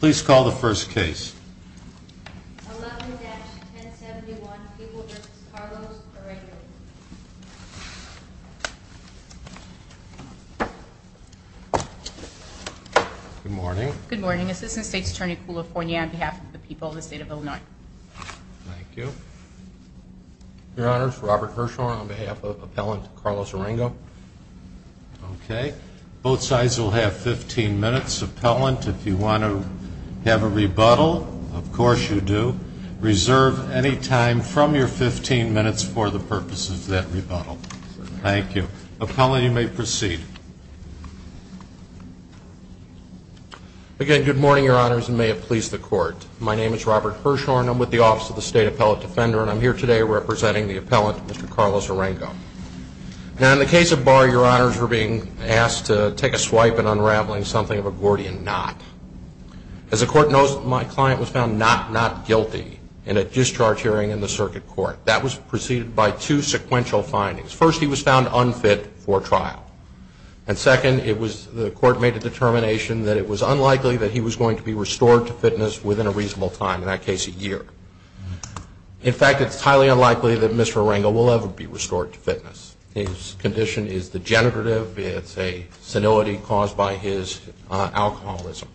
Please call the first case. Good morning. Good morning. Assistant State's Attorney Coulifornia on behalf of the people of the state of Illinois. Thank you. Your Honors, Robert Hirshhorn on behalf of Appellant Carlos Orengo. Okay, both sides will have 15 minutes. Appellant, if you want to have a rebuttal, of course you do. Reserve any time from your 15 minutes for the purposes of that rebuttal. Thank you. Appellant, you may proceed. Again, good morning, Your Honors, and may it please the Court. My name is Robert Hirshhorn. I'm with the Office of the State Appellate Defender, and I'm here today representing the Appellant, Mr. Carlos Orengo. Now, in the case of Barr, Your Honors, we're being asked to take a swipe in unraveling something of a Gordian Knot. As the Court knows, my client was found not guilty in a discharge hearing in the Circuit Court. That was preceded by two sequential findings. First, he was found unfit for trial. And second, it was the Court made a determination that it was unlikely that he was going to be restored to fitness within a reasonable time, in that case, a year. In fact, it's not the case that he was restored to fitness. His condition is degenerative. It's a senility caused by his alcoholism.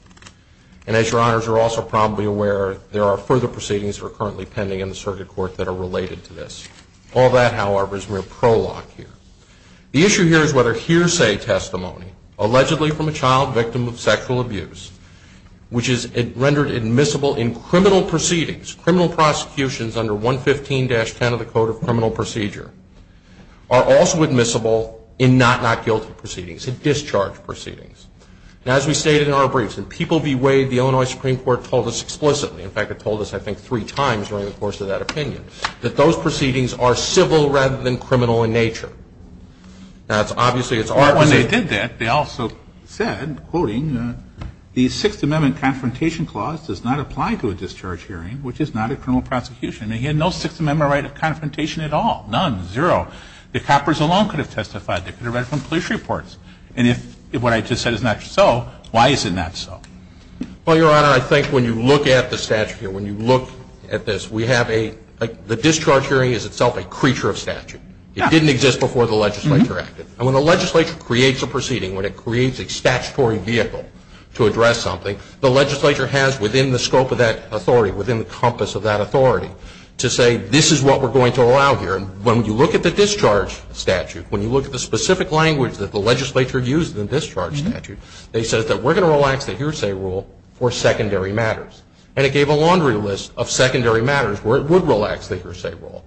And as Your Honors are also probably aware, there are further proceedings that are currently pending in the Circuit Court that are related to this. All that, however, is mere prologue here. The issue here is whether hearsay testimony, allegedly from a child victim of sexual abuse, which is rendered admissible in criminal proceedings, criminal prosecutions under 115-10 of the Code of Criminal Procedure, are also admissible in not not guilty proceedings, in discharge proceedings. And as we stated in our briefs, when people bewayed, the Illinois Supreme Court told us explicitly, in fact, it told us, I think, three times during the course of that opinion, that those proceedings are civil rather than criminal in nature. That's obviously, it's our position. But when they did that, they also said, quoting, the Sixth Amendment Confrontation Clause does not apply to a discharge hearing, which is not a criminal prosecution. I mean, he had no Sixth Amendment right of confrontation at all. None. Zero. The coppers alone could have testified. They could have read from police reports. And if what I just said is not so, why is it not so? Well, Your Honor, I think when you look at the statute here, when you look at this, we have a, like, the discharge hearing is itself a creature of statute. It didn't exist before the legislature acted. And when the legislature creates a proceeding, when it creates a statutory vehicle to address something, the legislature has, within the scope of that authority, within the compass of that authority, to say, this is what we're going to allow here. And when you look at the discharge statute, when you look at the specific language that the legislature used in the discharge statute, they said that we're going to relax the hearsay rule for secondary matters. And it gave a laundry list of secondary matters where it would relax the hearsay rule.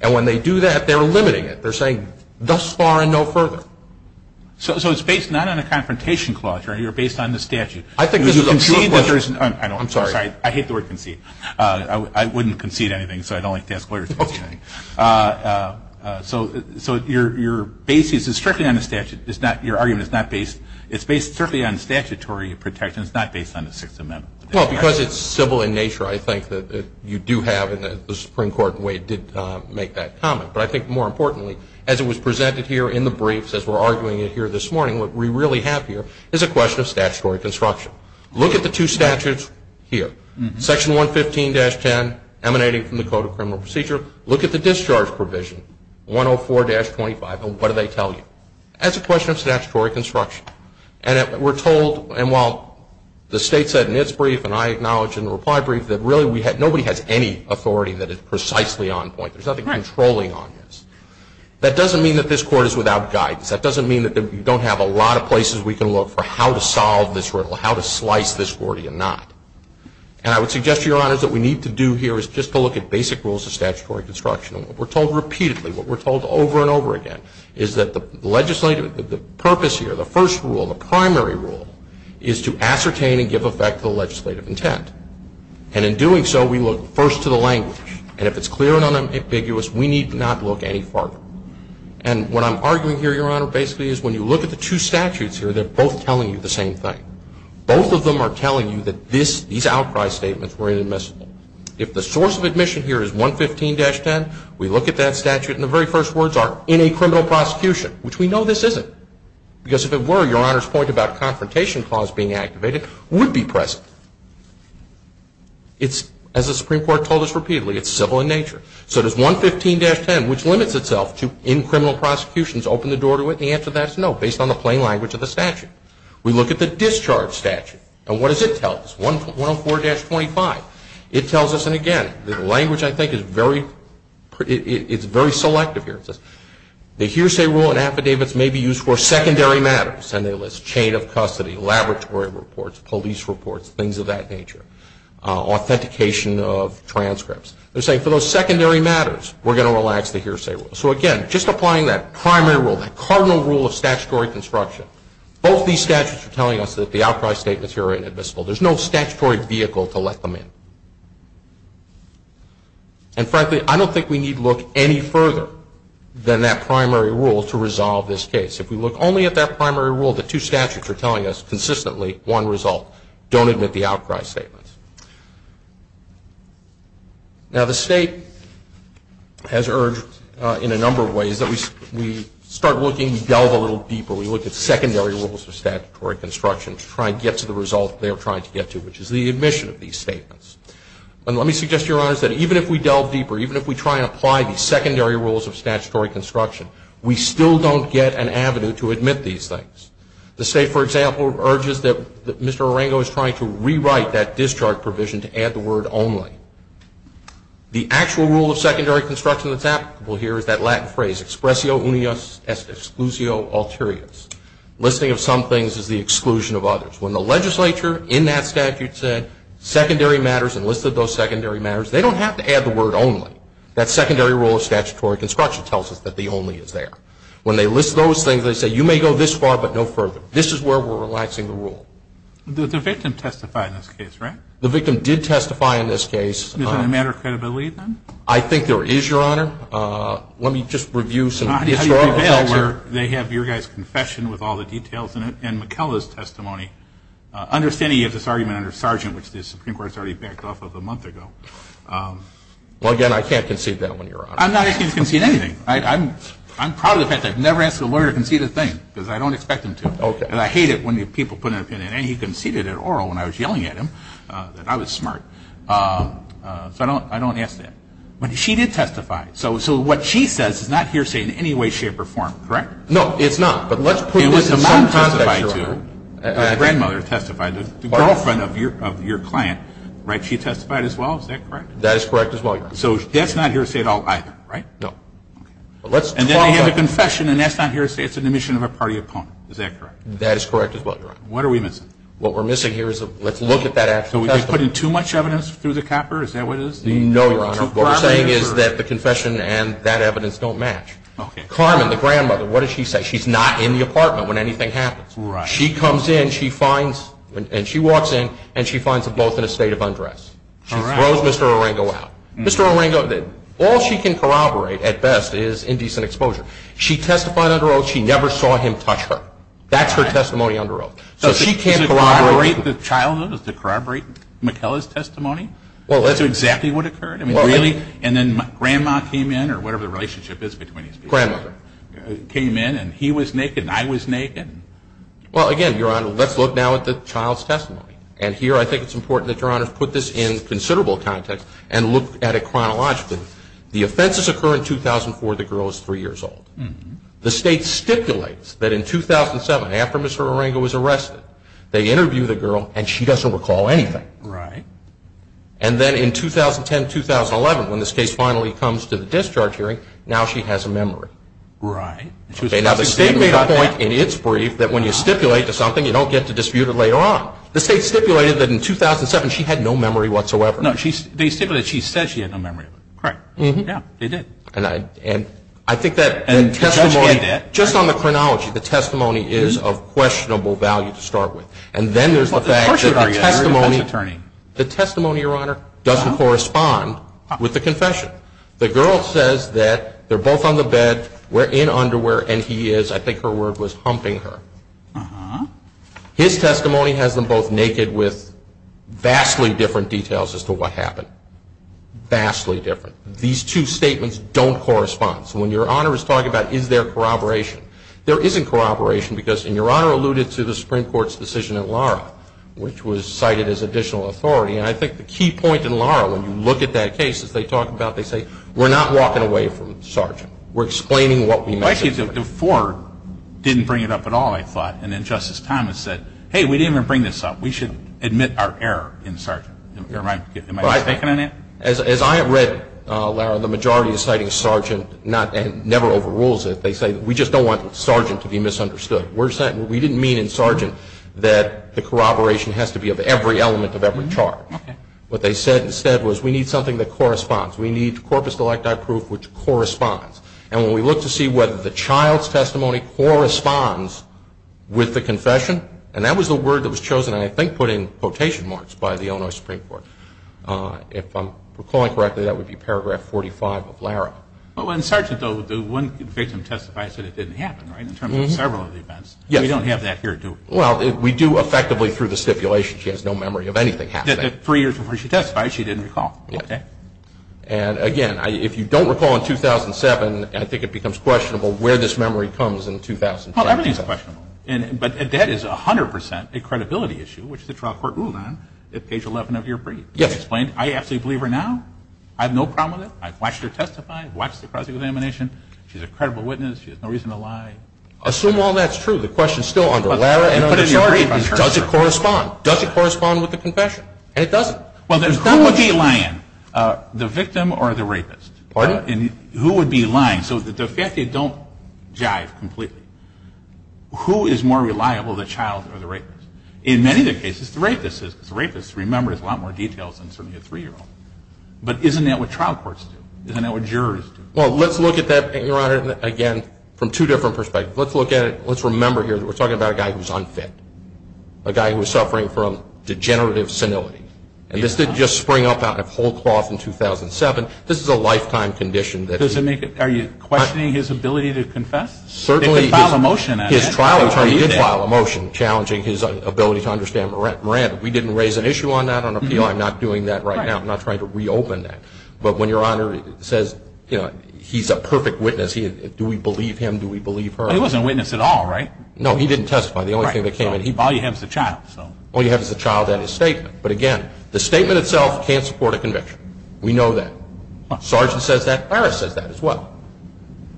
And when they do that, they're limiting it. They're saying, thus far and no further. So it's based not on a confrontation clause, Your Honor, you're based on the statute. I think this is a pure question. I hate the word concede. I wouldn't concede anything, so I don't like to ask lawyers to concede anything. So your basis is strictly on the statute. Your argument is not based, it's based strictly on statutory protection. It's not based on the Sixth Amendment. Well, because it's civil in nature, I think that you do have, and the Supreme Court, in a way, did make that comment. But I think more importantly, as it was presented here in the briefs, as we're arguing it here this morning, what we really have here is a question of statutory construction. Look at the two statutes here. Section 115-10, emanating from the Code of Criminal Procedure. Look at the discharge provision, 104-25, and what do they tell you? That's a question of statutory construction. And we're told, and while the State said in its brief, and I acknowledge in the reply brief, that really nobody has any authority that is precisely on point. There's nothing controlling on this. That doesn't mean that this Court is without guidance. That doesn't mean that you don't have a lot of places we can look for how to solve this riddle, how to slice this courtier knot. And I would suggest to Your Honors that what we need to do here is just to look at basic rules of statutory construction. And what we're told repeatedly, what we're told over and over again, is that the legislative, the purpose here, the first rule, the primary rule, is to ascertain and give effect to the legislative intent. And in doing so, we look first to the language. And if it's clear and unambiguous, we need not look any farther. And what I'm arguing here, Your Honor, basically is when you look at the two statutes here, they're both telling you the same thing. Both of them are telling you that these outcry statements were inadmissible. If the source of admission here is 115-10, we look at that statute and the very first words are, in a criminal prosecution, which we know this isn't. Because if it were, Your Honor's point about confrontation clause being activated would be present. It's, as the Supreme Court told us repeatedly, it's civil in nature. So does 115-10, which limits itself to, in criminal prosecutions, open the door to it? The answer to that is no, based on the plain language of the statute. We look at the discharge statute. And what does it tell us? 104-25. It tells us, and again, the language I think is very, it's very selective here. It says, the hearsay rule and affidavits may be used for secondary matters. And they list chain of custody, laboratory reports, police reports, things of that nature, authentication of transcripts. They're saying, for those secondary matters, we're going to relax the hearsay rule. So again, just applying that primary rule, that cardinal rule of statutory construction, both these statutes are telling us that the outcry statements here are inadmissible. There's no statutory vehicle to let them in. And frankly, I don't think we need look any further than that primary rule to resolve this case. If we look only at that primary rule, the two statutes are telling us consistently, one result. Don't admit the outcry statements. Now, the state has urged in a number of ways that we start looking, delve a little deeper. We look at secondary rules of statutory construction to try and get to the result they are trying to get to, which is the admission of these statements. And let me suggest, Your Honors, that even if we delve deeper, even if we try and apply these secondary rules of statutory construction, we still don't get an avenue to admit these things. The state, for example, urges that Mr. Arango is trying to rewrite that discharge provision to add the word only. The actual rule of secondary construction that's applicable here is that Latin phrase, expressio unius exclusio alterius. Listing of some things is the exclusion of others. When the legislature in that statute said secondary matters and listed those secondary matters, they don't have to add the word only. That secondary rule of statutory construction tells us that the only is there. When they list those things, they say you may go this far, but no further. This is where we're relaxing the rule. The victim testified in this case, right? The victim did testify in this case. Is there a matter of credibility, then? I think there is, Your Honor. Let me just review some historical facts here. How do you prevail where they have your guy's confession with all the details in it and McKellar's testimony, understanding you have this argument under Sargent, which the Supreme Court has already backed off of a month ago? Well, again, I can't concede that one, Your Honor. I'm not asking you to concede anything. I'm proud of the fact that I've never asked a lawyer to concede a thing because I don't expect him to. And I hate it when people put an opinion and he conceded it oral when I was yelling at him that I was smart. So I don't ask that. But she did testify. So what she says is not hearsay in any way, shape, or form, correct? No, it's not. But let's put it in some context, Your Honor. It was the mom testified to, the grandmother testified to, the girlfriend of your client, right? She testified as well. Is that correct? That is correct as well, Your Honor. So that's not hearsay at all either, right? No. And then they have a confession and that's not hearsay. It's an admission of a party opponent. Is that correct? That is correct as well, Your Honor. What are we missing? What we're missing here is let's look at that actual testimony. So we've been putting too much evidence through the copper? Is that what it is? No, Your Honor. What we're saying is that the confession and that evidence don't match. Carmen, the grandmother, what does she say? She's not in the apartment when anything happens. She comes in, she finds, and she walks in, and she finds them both in a state of undress. She throws Mr. Orango out. Mr. Orango, all she can corroborate at best is indecent exposure. She testified under oath. She never saw him touch her. That's her testimony under oath. So she can't corroborate? Does it corroborate the childhood? Does it corroborate McKellar's testimony? Well, that's exactly what occurred. Well, really? And then grandma came in, or whatever the relationship is between these people. Grandmother. Came in and he was naked and I was naked. Well, again, Your Honor, let's look now at the child's testimony. And here I think it's important that Your Honor put this in considerable context and look at it chronologically. The offenses occur in 2004. The girl is three years old. The state stipulates that in 2007, after Mr. Orango was arrested, they interview the girl and she doesn't recall anything. Right. And then in 2010-2011, when this case finally comes to the discharge hearing, now she has a memory. Right. Now the state made a point in its brief that when you stipulate to something, you don't get to dispute it later on. The state stipulated that in 2007, she had no memory whatsoever. No, they stipulated she said she had no memory. Right. Yeah, they did. And I think that testimony, just on the chronology, the testimony is of questionable value to start with. And then there's the fact that the testimony, Your Honor, doesn't correspond with the confession. The girl says that they're both on the bed, we're in underwear, and he is, I think her word was, humping her. His testimony has them both naked with vastly different details as to what happened. Vastly different. These two statements don't correspond. So when Your Honor is talking about is there corroboration, there isn't corroboration because, and Your Honor alluded to the Supreme Court's decision in Lara, which was cited as additional authority, and I think the key point in Lara, when you look at that case, as they talk about it, they say, we're not walking away from Sargent. We're explaining what we mentioned. Well, actually, DeFore didn't bring it up at all, I thought. And then Justice Thomas said, hey, we didn't even bring this up. We should admit our error in Sargent. Am I mistaken on that? As I have read, Lara, the majority is citing Sargent, and never overrules it. They say, we just don't want Sargent to be misunderstood. We didn't mean in Sargent that the corroboration has to be of every element of every charge. What they said instead was, we need something that corresponds. We need corpus delecta proof which corresponds. And when we look to see whether the child's testimony corresponds with the confession, and that was the word that was chosen, and I think put in quotation marks by the Illinois Supreme Court. If I'm recalling correctly, that would be paragraph 45 of Lara. Well, in Sargent, though, the one victim testifies that it didn't happen, right, in terms of several of the events. We don't have that here, do we? Well, we do, effectively, through the stipulation. She has no memory of anything happening. Three years before she testified, she didn't recall. Okay. And again, if you don't recall in 2007, I think it becomes questionable where this memory comes in 2010. Well, everything's questionable. But that is 100 percent a credibility issue, which the trial court ruled on at page 11 of your brief. Yes. It explained, I absolutely believe her now. I have no problem with it. I've watched her testify. I've watched the cross-examination. She's a credible witness. She has no reason to lie. Assume all that's true. The question's still under Lara and under Sargent. Does it correspond? Does it correspond with the confession? And it doesn't. Well, then who would be lying, the victim or the rapist? Pardon? And who would be lying? So the fact they don't jive completely. Who is more reliable, the child or the rapist? In many of the cases, the rapist is. The rapist, remember, has a lot more details than certainly a three-year-old. But isn't that what trial courts do? Isn't that what jurors do? Well, let's look at that, Your Honor, again, from two different perspectives. Let's look at it. Let's remember here that we're talking about a guy who's unfit, a guy who was suffering from degenerative senility. And this didn't just spring up out of whole cloth in 2007. This is a lifetime condition that he... Does it make it... Are you questioning his ability to confess? Certainly. They can file a motion at that. His trial attorney did file a motion challenging his ability to understand Miranda. We didn't raise an issue on that on appeal. I'm not doing that right now. I'm not trying to reopen that. But when Your Honor says, you know, he's a perfect witness, do we believe him? Do we believe her? He wasn't a witness at all, right? No, he didn't testify. The only thing that came in, all you have is the child. All you have is the child and his statement. But again, the statement itself can't support a conviction. We know that. Sargent says that. Harris says that as well.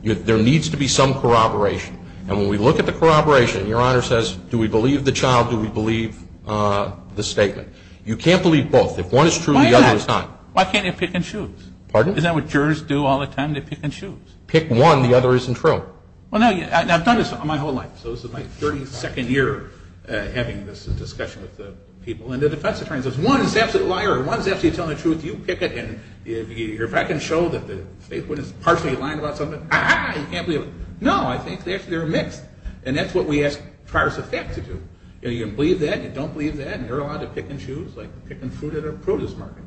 There needs to be some corroboration. And when we look at the corroboration, Your Honor says, do we believe the child? Do we believe the statement? You can't believe both. If one is true, the other is not. Why can't they pick and choose? Pardon? Isn't that what jurors do all the time? They pick and choose. Pick one, the other isn't true. Well, no. I've done this my whole life. So this is my 32nd year having this discussion with the people. And the defense attorney says, one is actually a liar. One is actually telling the truth. You pick it. And if I can show that the statement is partially lying about something, ah-ha, you can't believe it. No, I think they're actually mixed. And that's what we ask prior suspect to do. You can believe that, you don't believe that, and you're allowed to pick and choose, like picking fruit at a produce market.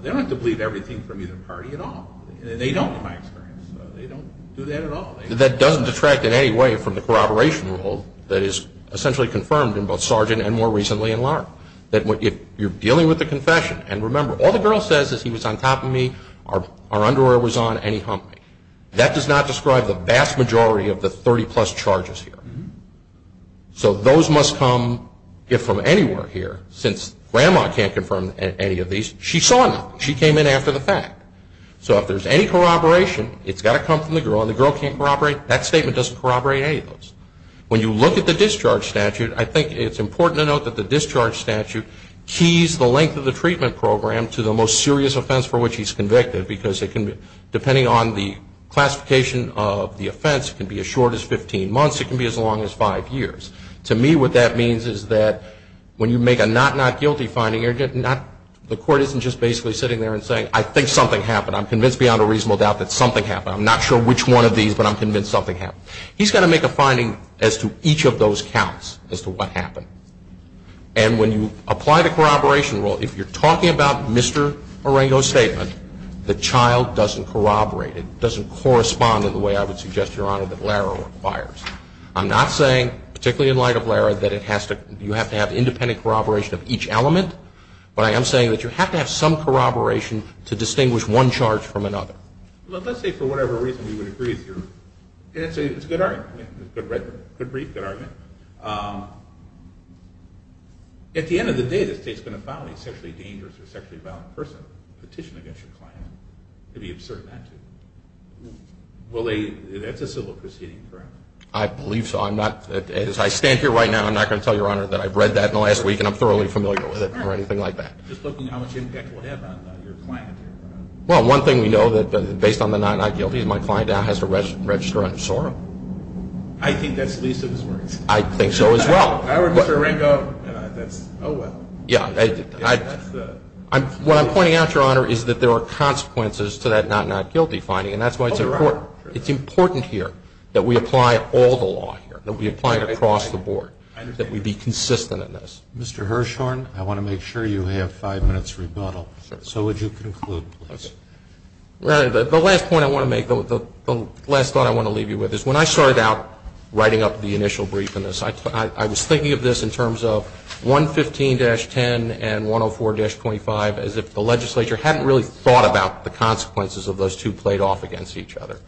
They don't have to believe everything from either party at all. They don't, in my experience. They don't do that at all. That doesn't detract in any way from the corroboration rule that is essentially confirmed in both Sargent and more recently in Lahr. That if you're dealing with a confession, and remember, all the girl says is he was on top of me, our underwear was on, and he humped me. That does not describe the vast majority of the 30 plus charges here. So those must come, if from anywhere here, since grandma can't confirm any of these, she saw nothing. She came in after the fact. So if there's any corroboration, it's got to come from the girl, and the girl can't corroborate. That statement doesn't corroborate any of the discharge statute. I think it's important to note that the discharge statute keys the length of the treatment program to the most serious offense for which he's convicted, because it can, depending on the classification of the offense, it can be as short as 15 months. It can be as long as five years. To me, what that means is that when you make a not not guilty finding, the court isn't just basically sitting there and saying, I think something happened. I'm convinced beyond a reasonable doubt that something happened. I'm not sure which one of these, but I'm convinced something happened. He's got to make a finding as to each of those counts, as to what happened. And when you apply the corroboration rule, if you're talking about Mr. Marengo's statement, the child doesn't corroborate. It doesn't correspond in the way I would suggest, Your Honor, that Lara requires. I'm not saying, particularly in light of Lara, that you have to have independent corroboration of each element, but I am saying that you have to have some corroboration to distinguish one charge from another. Let's say, for whatever reason, you would agree with your answer. It's a good argument. It's a good brief, good argument. At the end of the day, the state's going to file a sexually dangerous or sexually violent person petition against your client. It would be absurd not to. That's a civil proceeding, correct? I believe so. As I stand here right now, I'm not going to tell Your Honor that I've read that in the last week and I'm thoroughly familiar with it or anything like that. Just looking at how much impact it will have on your client. Well, one thing we know, based on the not not guilty, my client now has to register under SORM. I think that's least of his worries. I think so as well. If I were Mr. Arango, that's oh well. Yeah. What I'm pointing out, Your Honor, is that there are consequences to that not not guilty finding and that's why it's important. It's important here that we apply all the law here, that we apply it across the board, that we be consistent in this. Mr. Hirshhorn, I want to make sure you have five minutes rebuttal. So would you conclude, please? Your Honor, the last point I want to make, the last thought I want to leave you with is when I started out writing up the initial brief in this, I was thinking of this in terms of 115-10 and 104-25 as if the legislature hadn't really thought about the consequences of those two played off against each other.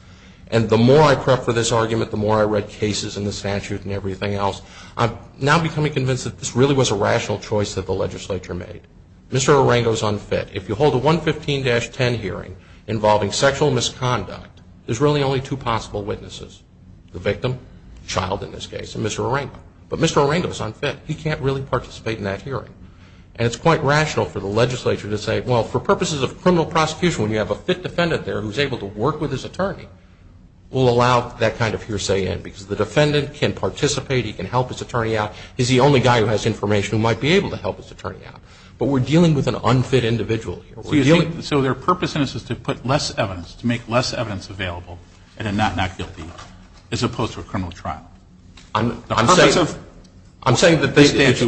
And the more I prepped for this argument, the more I read cases and the statute and everything else, I'm now becoming convinced that this really was a rational choice that the legislature made. Mr. Arango's unfit. If you hold a 115-10 hearing involving sexual misconduct, there's really only two possible witnesses, the victim, child in this case, and Mr. Arango. But Mr. Arango's unfit. He can't really participate in that hearing. And it's quite rational for the legislature to say, well, for purposes of criminal prosecution, when you have a fit defendant there who's able to work with his attorney, we'll allow that kind of hearsay in because the defendant can participate, he can help his attorney out. He's the only guy who has information who might be able to help his attorney out. But we're dealing with an unfit individual here. So their purpose in this is to put less evidence, to make less evidence available in a not guilty as opposed to a criminal trial. I'm saying that I think it's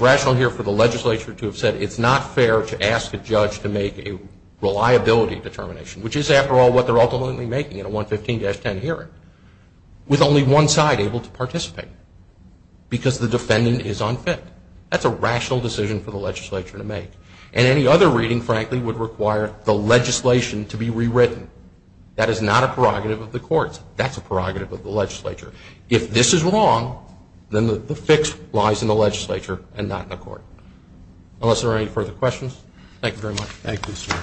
rational here for the legislature to have said it's not fair to ask a judge to make a reliability determination, which is after all what they're ultimately making in a 115-10 hearing, with only one side able to participate. Because the defendant is unfit. That's a rational decision for the legislature to make. And any other reading, frankly, would require the legislation to be rewritten. That is not a prerogative of the courts. That's a prerogative of the legislature. If this is wrong, then the fix lies in the legislature and not in the court. Unless there are any further questions. Thank you very much. Thank you, sir.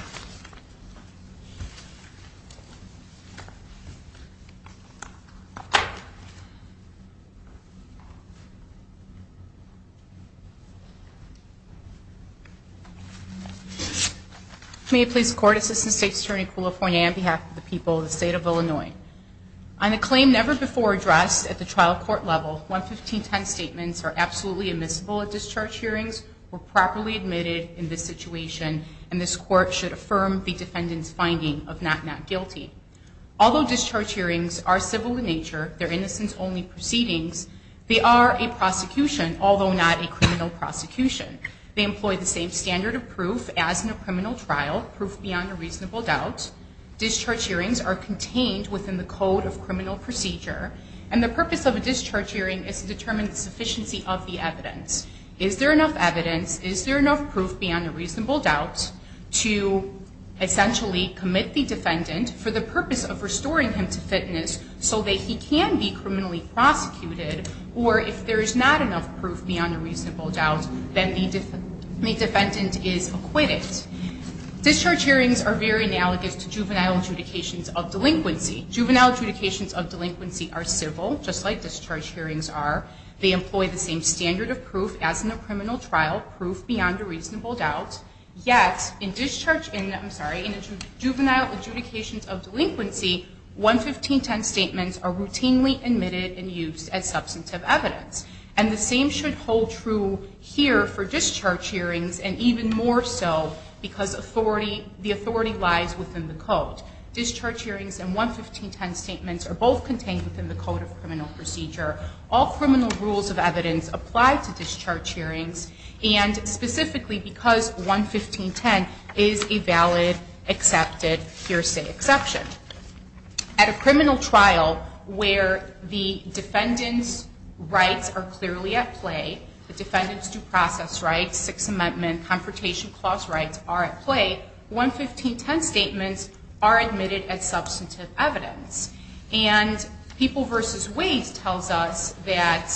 May it please the Court, Assistant State's Attorney Kulafoye on behalf of the people of the State of Illinois. On a claim never before addressed at the trial court level, 115-10 statements are absolutely admissible at discharge hearings, were properly admitted in this situation, and this court should affirm the defendant's finding of not not guilty. Although discharge hearings are civil in nature, they're innocence-only proceedings, they are a prosecution, although not a criminal prosecution. They employ the same standard of proof as in a criminal trial, proof beyond a reasonable doubt. Discharge hearings are contained within the code of criminal procedure. And the purpose of a discharge hearing is to determine the sufficiency of the evidence. Is there enough evidence? Is there enough proof beyond a reasonable doubt to essentially commit the defendant for the purpose of restoring him to fitness so that he can be criminally prosecuted? Or if there is not enough proof beyond a reasonable doubt, then the defendant is acquitted. Discharge hearings are very analogous to juvenile adjudications of delinquency. Juvenile adjudications of delinquency are civil, just like discharge hearings are. They employ the same standard of proof as in a criminal trial, proof beyond a reasonable doubt. Yet, in juvenile adjudications of delinquency, 11510 statements are routinely admitted and used as substantive evidence. And the same should hold true here for discharge hearings and even more so because the authority lies within the code. Discharge hearings and 11510 statements are both contained within the code of criminal procedure. All criminal rules of evidence apply to discharge hearings and specifically because 11510 is a valid, accepted, hearsay exception. At a criminal trial where the defendant's rights are clearly at play, the defendant's due process rights, Sixth Amendment, Confrontation Clause rights are at play, 11510 statements are admitted as substantive evidence. And People vs. Waste tells us that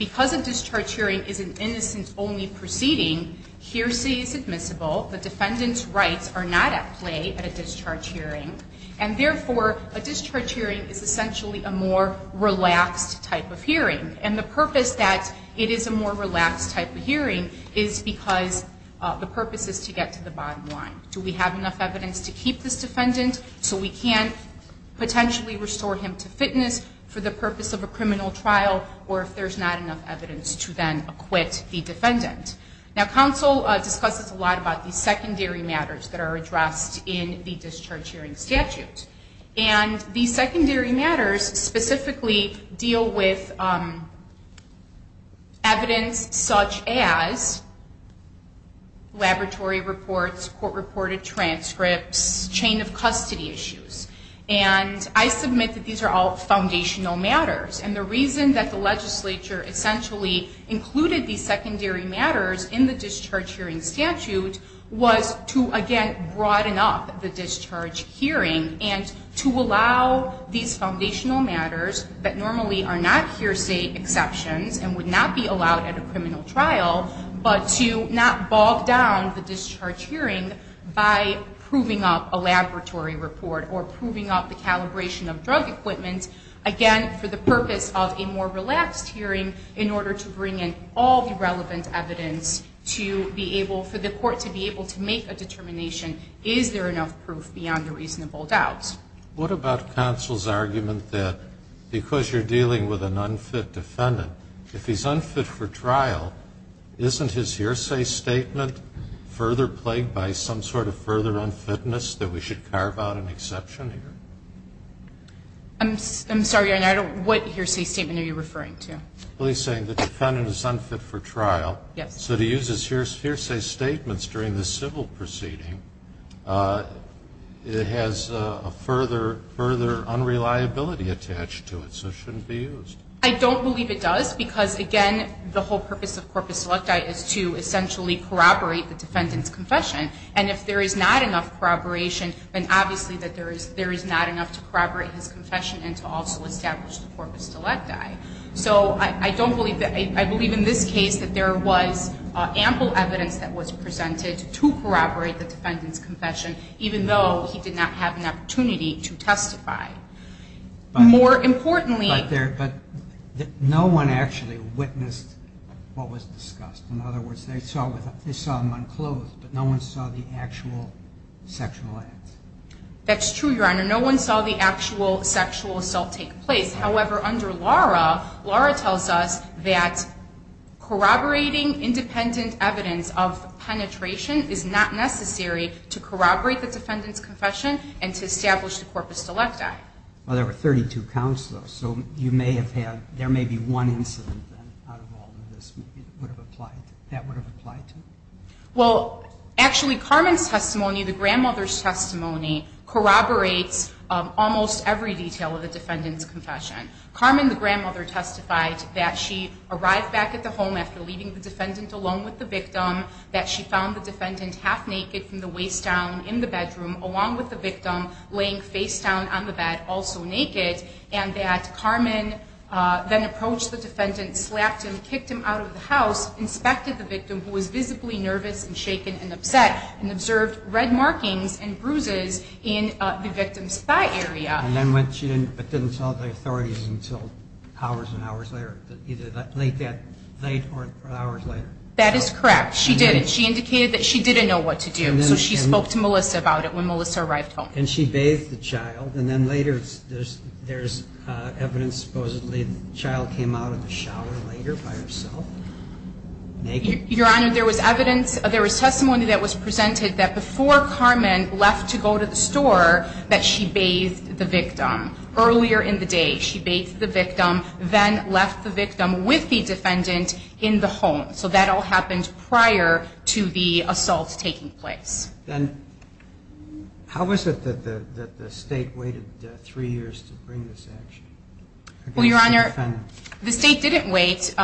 because a discharge hearing is an innocence-only proceeding, hearsay is admissible, the defendant's rights are not at play at a discharge hearing, and therefore a discharge hearing is essentially a more relaxed type of hearing. And the purpose that it is a more relaxed type of hearing is because the purpose is to get to the bottom line. Do we have enough evidence to keep this defendant so we can potentially restore him to fitness for the purpose of a criminal trial or if there's not enough evidence to then acquit the defendant? Now, counsel discusses a lot about the secondary matters that are addressed in the discharge hearing statute. And these secondary matters specifically deal with evidence such as laboratory reports, court-reported transcripts, chain of custody issues. And I submit that these are all foundational matters. And the reason that the legislature essentially included these secondary matters in the discharge hearing statute was to, again, broaden up the discharge hearing and to allow these foundational matters that normally are not hearsay exceptions and would not be allowed at a criminal trial, but to not bog down the discharge hearing by proving up a laboratory report or proving up the calibration of drug equipment, again, for the purpose of a more relaxed hearing in order to bring in all the relevant evidence for the court to be able to make a determination, is there enough proof beyond a reasonable doubt? What about counsel's argument that because you're dealing with an unfit defendant, if he's unfit for trial, isn't his hearsay statement further plagued by some sort of further unfitness that we should carve out an exception here? I'm sorry, I don't... What hearsay statement are you referring to? Well, he's saying the defendant is unfit for trial. Yes. So to use his hearsay statements during the civil proceeding has a further unreliability attached to it, so it shouldn't be used. I don't believe it does, because again, the whole purpose of corpus selecti is to essentially corroborate the defendant's confession, and if there is not enough corroboration, then obviously there is not enough to corroborate his confession and to also establish the corpus selecti. So I don't believe that... I believe in this case that there was ample evidence that was presented to corroborate the defendant's confession, even though he did not have an opportunity to testify. More importantly... But no one actually witnessed what was discussed. In other words, they saw him unclothed, but no one saw the actual sexual acts. That's true, Your Honor. No one saw the actual sexual assault take place. However, under Laura, Laura tells us that corroborating independent evidence of penetration is not necessary to corroborate the defendant's confession and to establish the corpus selecti. Well, there were 32 counts, though, so you may have had... There may be one incident out of all of this that would have applied... that would have applied to? Well, actually, Carmen's testimony, the grandmother's testimony, corroborates almost every detail of the defendant's confession. Carmen, the grandmother, testified that she arrived back at the home after leaving the defendant alone with the victim, that she found the defendant half-naked from the waist down in the bedroom along with the victim laying face-down on the bed, also naked, and that Carmen then approached the defendant, slapped him, kicked him out of the house, inspected the victim, who was visibly nervous and shaken and upset, and observed red markings and bruises in the victim's thigh area. And then went... She didn't... But didn't tell the authorities until hours and hours later, either late that night or hours later? That is correct. She didn't. She indicated that she didn't know what to do. So she spoke to Melissa about it when Melissa arrived home. And she bathed the child, and then later there's evidence supposedly the child came out of the shower later by herself, naked? Your Honor, there was evidence, there was testimony that was presented that before Carmen left to go to the store that she bathed the victim. Earlier in the day, she bathed the victim, then left the victim with the defendant in the home. So that all happened prior to the assault taking place. And how was it that the state waited three years to bring this action? Well, Your Honor, the state didn't wait.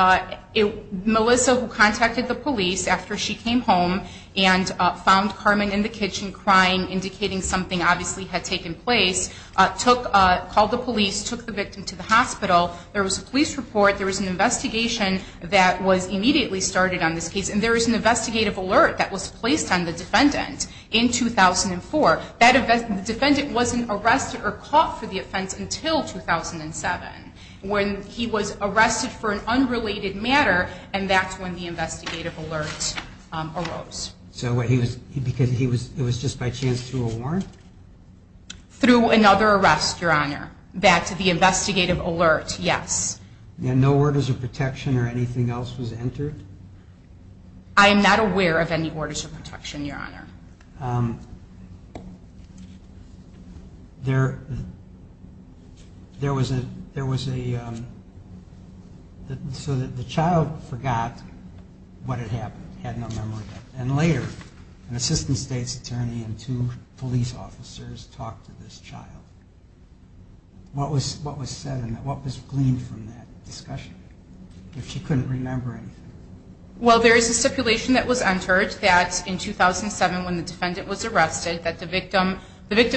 Melissa, who contacted the police after she came home and found Carmen in the kitchen, crying, indicating something obviously had taken place, called the police, took the victim to the hospital. There was a police report, there was an investigation that was immediately started on this case, and there was an investigative alert that was placed on the defendant in 2004. The defendant wasn't arrested or caught for the offense until 2007, when he was arrested for an unrelated matter, and that's when the investigative alert arose. Because it was just by chance through a warrant? Through another arrest, Your Honor. Back to the investigative alert, yes. And no orders of protection or anything else was entered? I am not aware of any orders of protection, Your Honor. There was a so that the child forgot what had happened, had no memory of it. And later, an assistant state's attorney and two police officers talked to this child. What was said, and what was gleaned from that discussion, if she couldn't remember anything? Well, there is a stipulation that was entered that in 2007, when the defendant was arrested, that the victim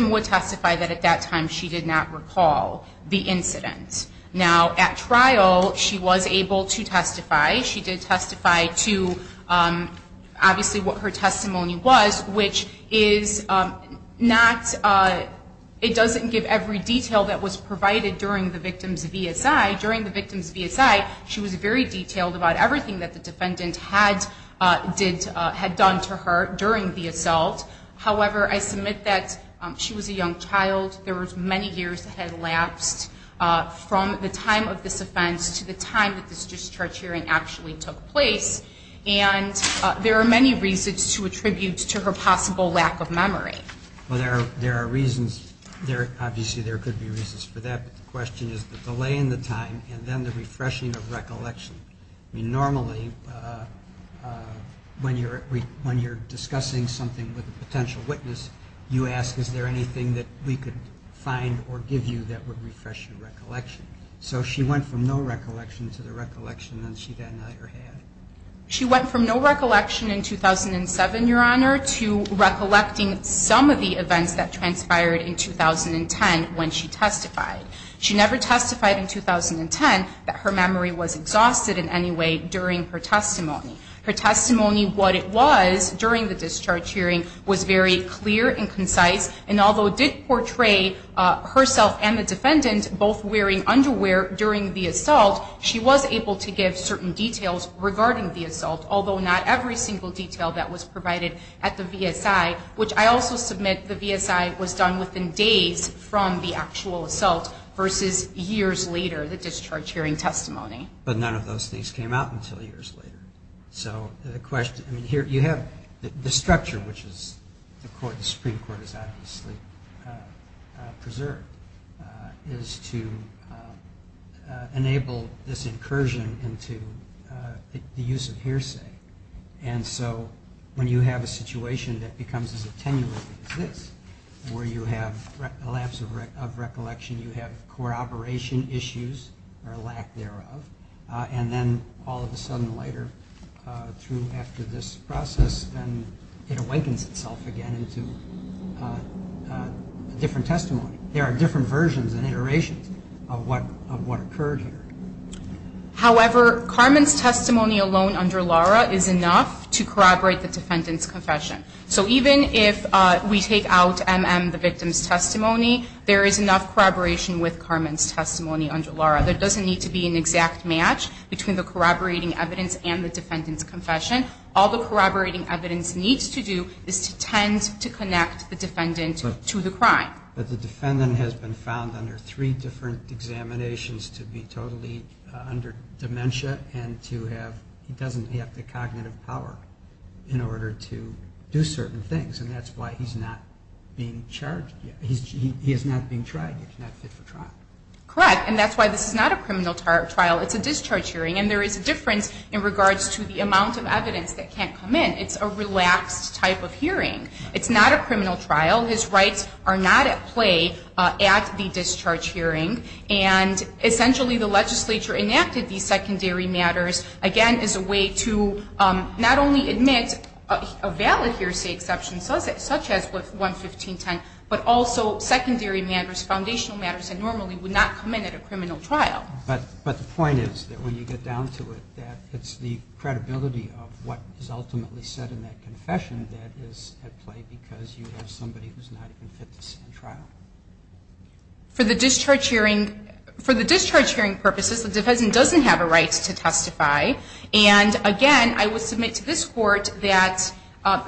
would testify that at that time she did not recall the incident. Now, at trial, she was able to testify. She did testify to, obviously, what her testimony was, which is not it doesn't give every detail that was provided during the victim's VSI. During the victim's VSI, she was very detailed about everything that the defendant had done to her during the assault. However, I submit that she was a young child. There was many years that had lapsed from the time of this offense to the time that this discharge hearing actually took place. And there are many reasons to attribute to her possible lack of memory. Well, there are reasons. Obviously, there could be reasons for that, but the question is the delay in the time, and then the refreshing of recollection. Normally, when you're discussing something with a potential witness, you ask, is there anything that we could find or give you that would refresh your recollection? So, she went from no recollection to the recollection that she then had. She went from no recollection in 2007, Your Honor, to recollecting some of the events that transpired in 2010 when she testified. She never testified in 2010 that her memory was exhausted in any way during her testimony. Her testimony what it was during the discharge hearing was very clear and concise, and although it did portray herself and the defendant both wearing underwear during the assault, she was able to give certain details regarding the assault, although not every single detail that was provided at the VSI, which I also submit the VSI was done within days from the actual assault versus years later, the discharge hearing testimony. But none of those things came out until years later. So, the question, you have the structure, which the Supreme Court has obviously preserved, is to enable this incursion into the use of hearsay. And so, when you have a situation that becomes as attenuated as this, where you have a lapse of recollection, you have corroboration issues or a lack thereof, and then all of a sudden later through after this process then it awakens itself again into a different testimony. There are different versions and iterations of what occurred here. However, Carmen's testimony alone under Lara is enough to corroborate the defendant's confession. So even if we take out MM, the victim's testimony, there is enough corroboration with Carmen's testimony under Lara. There doesn't need to be an exact match between the corroborating evidence and the defendant's confession. All the corroborating evidence needs to do is to tend to connect the defendant to the crime. But the defendant has been found under three different examinations to be totally under dementia and he doesn't have the cognitive power in order to do certain things. And that's why he's not being tried. He's not fit for trial. Correct. And that's why this is not a criminal trial. It's a discharge hearing. And there is a difference in regards to the amount of evidence that is in the discharge hearing. It's not a criminal trial. His rights are not at play at the discharge hearing. And essentially the legislature enacted these secondary matters again as a way to not only admit a valid hearsay exception such as with 11510, but also secondary matters, foundational matters that normally would not come in at a criminal trial. But the point is that when you get down to it, that it's the credibility of what is ultimately said in that confession that is at play because you have somebody who's not even fit to stand trial. For the discharge hearing purposes, the defendant doesn't have a right to testify. And again, I would submit to this Court that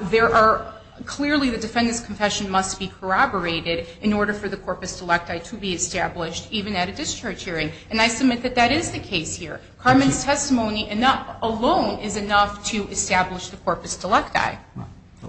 there are clearly the defendant's confession must be corroborated in order for the corpus delecti to be established even at a discharge hearing. And I submit that that is the case here. Carmen's testimony alone is enough to establish the corpus delecti.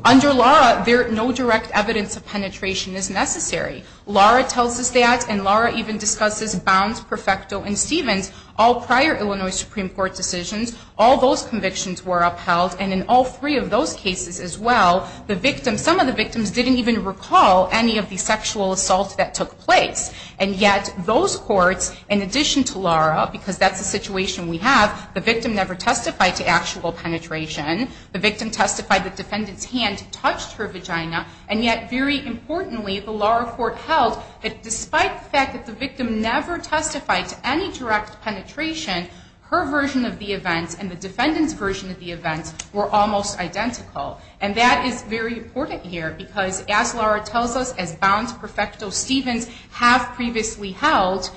Under Laura, no direct evidence of penetration is necessary. Laura tells us that, and Laura even discusses Bounds, Perfecto, and Stevens, all prior Illinois Supreme Court decisions. All those convictions were upheld and in all three of those cases as well, the victim, some of the victims, didn't even recall any of the sexual assault that took place. And yet those courts, in addition to Laura, because that's the situation we have, the victim never testified to actual penetration, the victim testified the defendant's hand touched her vagina, and yet, very importantly, the Laura court held that despite the fact that the victim never testified to any direct penetration, her version of the events and the defendant's version of the events were almost identical. And that is very important here because, as Laura tells us, as Bounds, Perfecto, Stevens have previously held,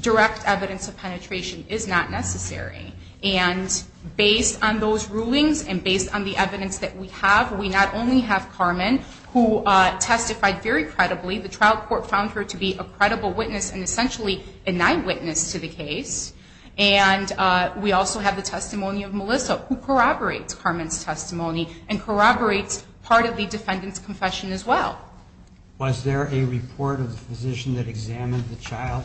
direct evidence of penetration is not necessary. And based on those rulings and based on the evidence that we have, we not only have Carmen who testified very credibly, the trial court found her to be a credible witness and essentially a night witness to the case, and we also have the testimony of Melissa who corroborates Carmen's testimony and corroborates part of the defendant's confession as well. Was there a report of the physician that examined the child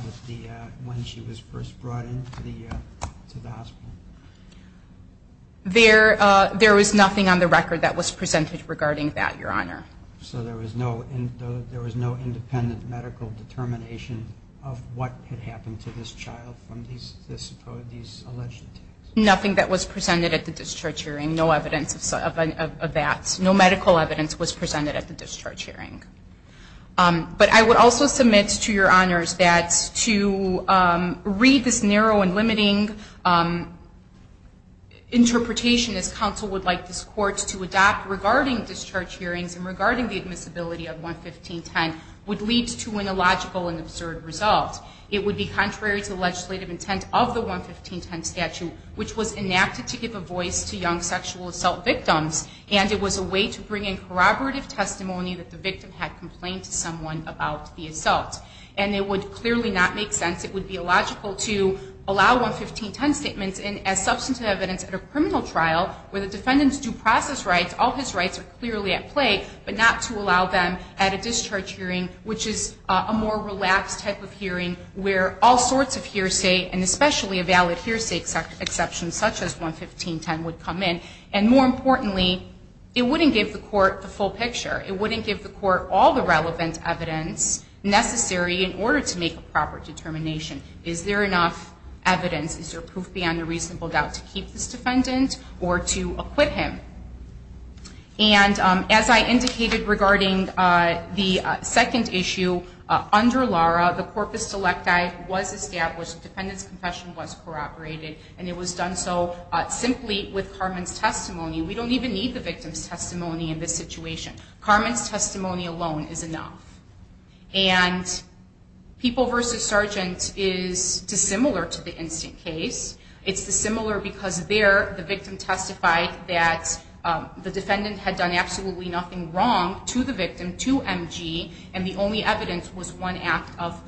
when she was first brought into the hospital? There was nothing on the record that was presented regarding that, Your Honor. So there was no independent medical determination of what had happened to this child from these alleged attacks? Nothing that was presented at the discharge hearing, no evidence of that. No medical evidence was presented at the discharge hearing. But I would also submit to Your Honors that to read this narrow and limiting interpretation as counsel would like this court to adopt regarding discharge hearings and regarding the admissibility of 11510 would lead to an illogical and absurd result. It would be contrary to legislative intent of the 11510 statute, which was enacted to give a voice to young sexual assault victims and it was a way to bring in corroborative testimony that the victim had spoken to someone about the assault. And it would clearly not make sense, it would be illogical to allow 11510 statements as substantive evidence at a criminal trial where the defendant's due process rights, all his rights, are clearly at play, but not to allow them at a discharge hearing, which is a more relaxed type of hearing where all sorts of hearsay and especially a valid hearsay exception such as 11510 would come in. And more importantly, it wouldn't give the court the full picture. It wouldn't give the court all the relevant evidence necessary in order to make a proper determination. Is there enough evidence? Is there proof beyond a reasonable doubt to keep this defendant or to acquit him? And as I indicated regarding the second issue under Lara, the corpus selecti was established, the defendant's confession was corroborated, and it was done so simply with Carmen's testimony. We don't even need the victim's testimony. Carmen's testimony alone is enough. And People v. Sargent is dissimilar to the instant case. It's dissimilar because there the victim testified that the defendant had done absolutely nothing wrong to the victim, to MG, and the only evidence was one act of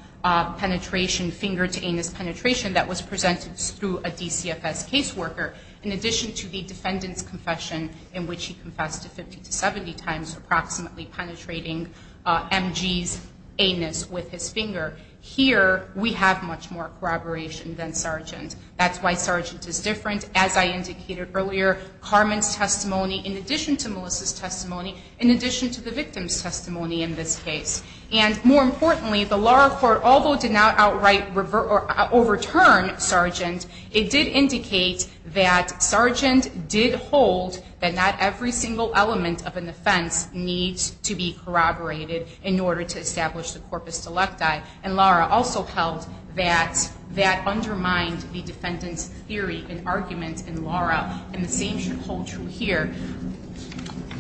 penetration, finger to anus penetration, that was presented through a DCFS caseworker, in addition to the defendant's confession in which he was approximately penetrating MG's anus with his finger. Here, we have much more corroboration than Sargent. That's why Sargent is different. As I indicated earlier, Carmen's testimony in addition to Melissa's testimony, in addition to the victim's testimony in this case. And more importantly, the Lara court, although it did not outright overturn Sargent, it did indicate that Sargent did hold that not every single element of an offense needs to be corroborated in order to establish the corpus delecti. And Lara also held that that undermined the defendant's theory and argument in Lara. And the same should hold true here.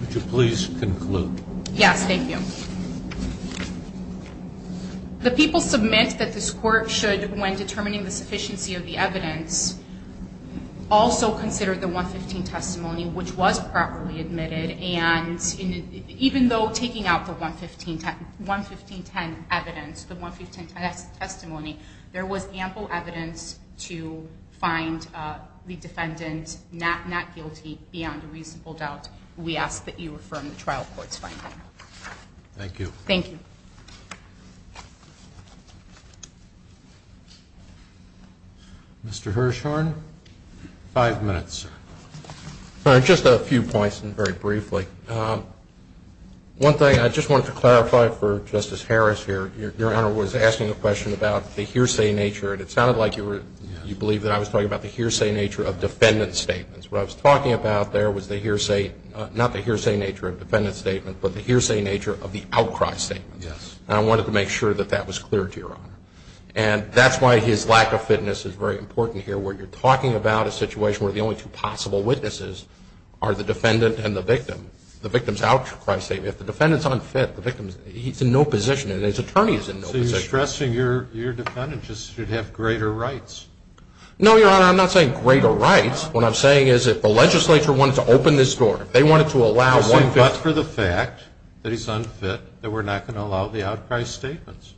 Would you please conclude? Yes, thank you. The people submit that this court should, when determining the sufficiency of the evidence, also consider the 115 testimony which was properly admitted and even though taking out the 11510 evidence, the 11510 testimony, there was ample evidence to find the defendant not guilty beyond a reasonable doubt. We ask that you affirm the trial court's finding. Thank you. Mr. Hirshhorn, five minutes. Just a few points very briefly. One thing I just wanted to clarify for Justice Harris here, your Honor was asking a question about the hearsay nature and it sounded like you believe that I was talking about the hearsay nature of defendant's statements. What I was talking about there was the hearsay, not the hearsay nature of defendant's statement, but the hearsay nature of the outcry statement. And I wanted to make sure that that was clear to your Honor. And that's why his lack of clarity is important here where you're talking about a situation where the only two possible witnesses are the defendant and the victim. The victim's outcry statement, if the defendant's unfit, he's in no position and his attorney is in no position. So you're stressing your defendant just should have greater rights. No, your Honor, I'm not saying greater rights. What I'm saying is if the legislature wanted to open this door, if they wanted to allow one... You're saying, but for the fact that he's unfit, that we're not going to allow the outcry statements.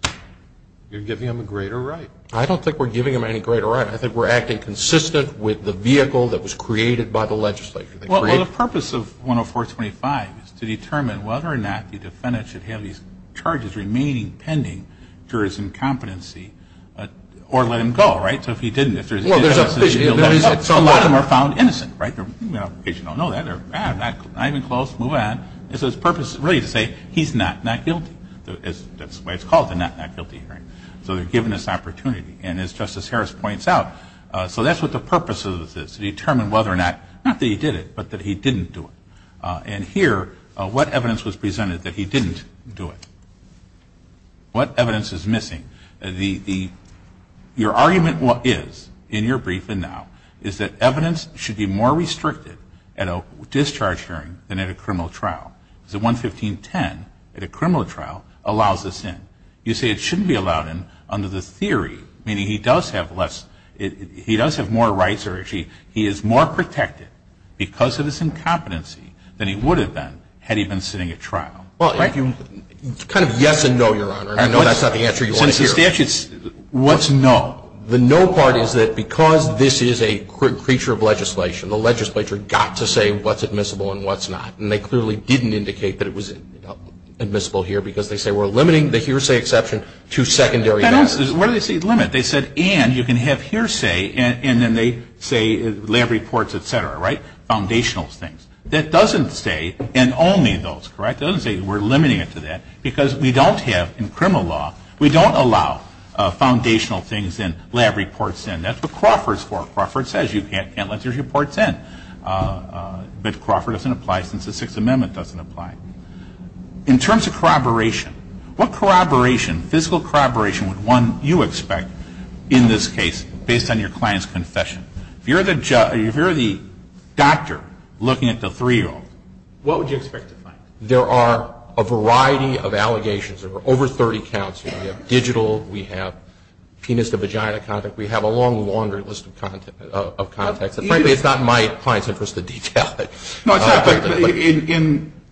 You're giving him a greater right. I don't think we're giving him any greater right. I think we're acting consistent with the vehicle that was created by the legislature. Well, the purpose of 10425 is to determine whether or not the defendant should have his charges remaining pending, jurors in competency, or let him go, right? So if he didn't... So a lot of them are found innocent, right? You don't know that, they're not even close, move on. It's his purpose really to say he's not not guilty. That's why it's called the not not guilty hearing. So they're giving this opportunity, and as Justice Harris points out, so that's what the purpose of this is, to determine whether or not, not that he did it, but that he didn't do it. And here, what evidence was presented that he didn't do it? What evidence is missing? Your argument is, in your brief and now, is that evidence should be more restricted at a discharge hearing than at a criminal trial. 11510, at a criminal trial, allows this in. You say it shouldn't be allowed in, under the theory, meaning he does have less, he does have more rights, he is more protected, because of his incompetency, than he would have been, had he been sitting at trial. Kind of yes and no, Your Honor. I know that's not the answer you want to hear. What's no? The no part is that because this is a creature of legislation, the legislature got to say what's admissible and what's not, and they clearly didn't indicate that it was admissible here, because they say we're limiting the hearsay exception to secondary matters. What do they say limit? They said and you can have hearsay and then they say lab reports, etc. Foundational things. That doesn't say, and only those, that doesn't say we're limiting it to that, because we don't have, in criminal law, we don't allow foundational things in, lab reports in. That's what Crawford's for. Crawford says you can't let your reports in. But Crawford doesn't apply since the Sixth Amendment doesn't apply. In terms of corroboration, what corroboration, physical corroboration, would one, you expect, in this case, based on your client's confession? If you're the doctor looking at the three-year-old, what would you expect to find? There are a variety of allegations. There are over 30 counts. We have digital, we have penis to vagina, we have a long laundry list of It's not in my client's interest to detail it.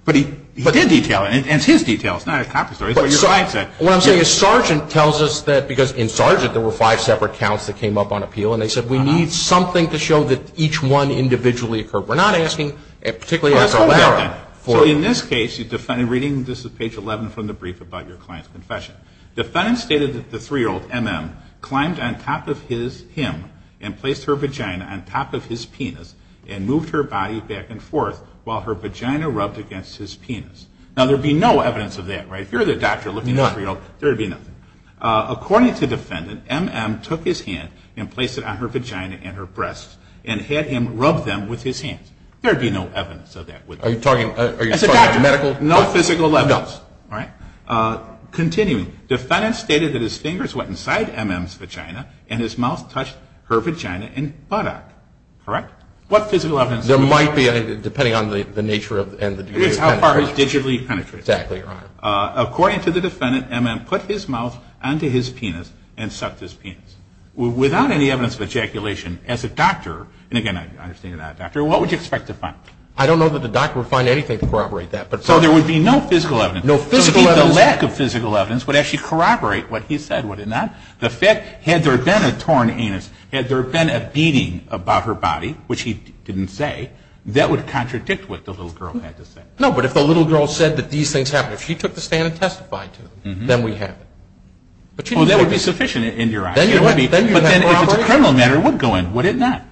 But he did detail it, and it's his detail, it's not a copy story. What I'm saying is Sargent tells us that, because in Sargent there were five separate counts that came up on appeal, and they said we need something to show that each one individually occurred. We're not asking, particularly for Lara. So in this case, reading, this is page 11 from the brief about your client's confession, the defendant stated that the three-year-old, M.M., climbed on top of his vagina on top of his penis and moved her body back and forth while her vagina rubbed against his penis. Now there would be no evidence of that. If you're the doctor looking at the three-year-old, there would be nothing. According to the defendant, M.M. took his hand and placed it on her vagina and her breasts and had him rub them with his hands. There would be no evidence of that. Are you talking about medical evidence? No physical evidence. Continuing, the defendant stated that his fingers went inside M.M.'s vagina and his mouth touched her vagina and buttock, correct? What physical evidence? There might be, depending on the nature and the degree of penetration. It's how far he's digitally penetrated. According to the defendant, M.M. put his mouth onto his penis and sucked his penis. Without any evidence of ejaculation, as a doctor, and again, I understand you're not a doctor, what would you expect to find? I don't know that the doctor would find anything to corroborate that. So there would be no physical evidence? So the lack of physical evidence would actually corroborate what he said, would it not? Had there been a torn anus, had there been a beating above her body, which he didn't say, that would contradict what the little girl had to say. No, but if the little girl said that these things happened, if she took the stand and testified to them, then we have it. That would be sufficient in your argument. But then if it's a criminal matter, it would go in, would it not?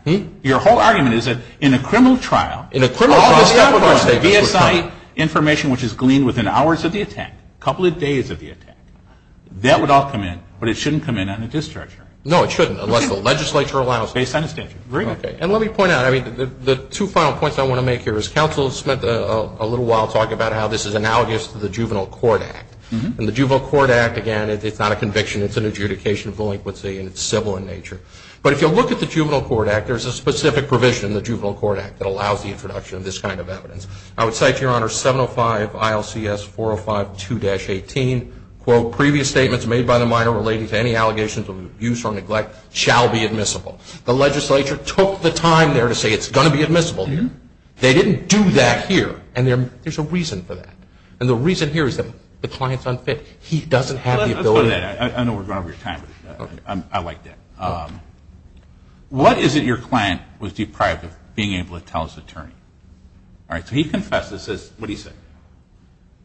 Your whole argument is that in a criminal trial, VSI information which is gleaned within hours of the attack, a couple of days of the attack, that would all come in, but it shouldn't come in on a discharge hearing. No, it shouldn't, unless the legislature allows it. And let me point out, the two final points I want to make here is counsel spent a little while talking about how this is analogous to the Juvenile Court Act. And the Juvenile Court Act, again, it's not a conviction, it's an adjudication of delinquency and it's civil in nature. But if you look at the Juvenile Court Act, there's a specific provision in the Juvenile Court Act that allows the introduction of this kind of evidence. I would cite, Your Honor, 705 ILCS 405-2-18, quote, previous statements made by the minor relating to any allegations of abuse or neglect shall be admissible. The legislature took the time there to say it's going to be admissible here. They didn't do that here. And there's a reason for that. And the reason here is that the client's unfit. He doesn't have the ability. Let's go to that. I know we're going over your time, but I like that. What is it your client was deprived of being able to tell his attorney? All right, so he confesses. What does he say?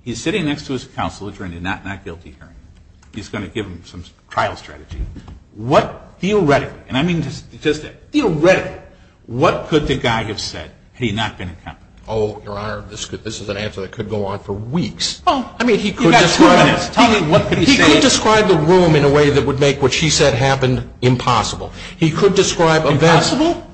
He's sitting next to his counsel attorney, not guilty hearing. He's going to give him some trial strategy. What theoretically, and I mean just theoretically, what could the guy have said had he not been accountable? Oh, Your Honor, this is an answer that could go on for weeks. Oh, I mean, he could describe the room in a way that would make what she said happen impossible.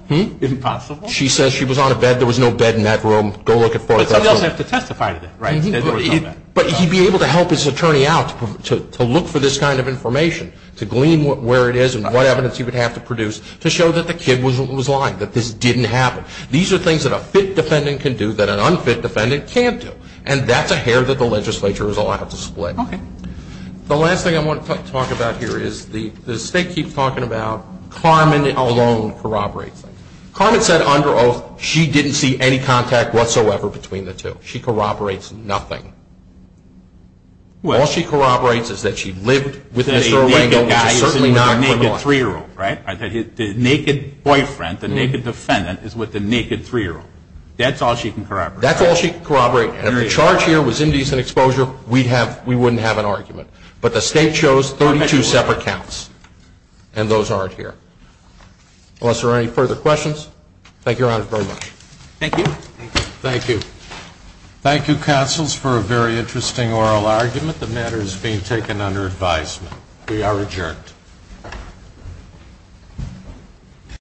Impossible? She says she was on a bed. There was no bed in that room. But somebody else would have to testify to that. But he'd be able to help his attorney out to look for this kind of information, to glean where it is and what evidence he would have to produce to show that the kid was lying, that this didn't happen. These are things that a fit defendant can do that an unfit defendant can't do. And that's a hair that the legislature is allowed to split. The last thing I want to talk about here is the state keeps talking about Carmen alone corroborates things. Carmen said under oath she didn't see any contact whatsoever between the two. She corroborates nothing. All she corroborates is that she lived with Mr. Arango, which is certainly not criminal. The naked boyfriend, the naked defendant is with the naked 3-year-old. That's all she can corroborate. If the charge here was indecent exposure we wouldn't have an argument. But the state chose 32 separate counts. And those aren't here. Unless there are any further questions thank you, Your Honor, very much. Thank you. Thank you. Thank you, counsels, for a very interesting oral argument. The matter is being taken under advisement. We are adjourned.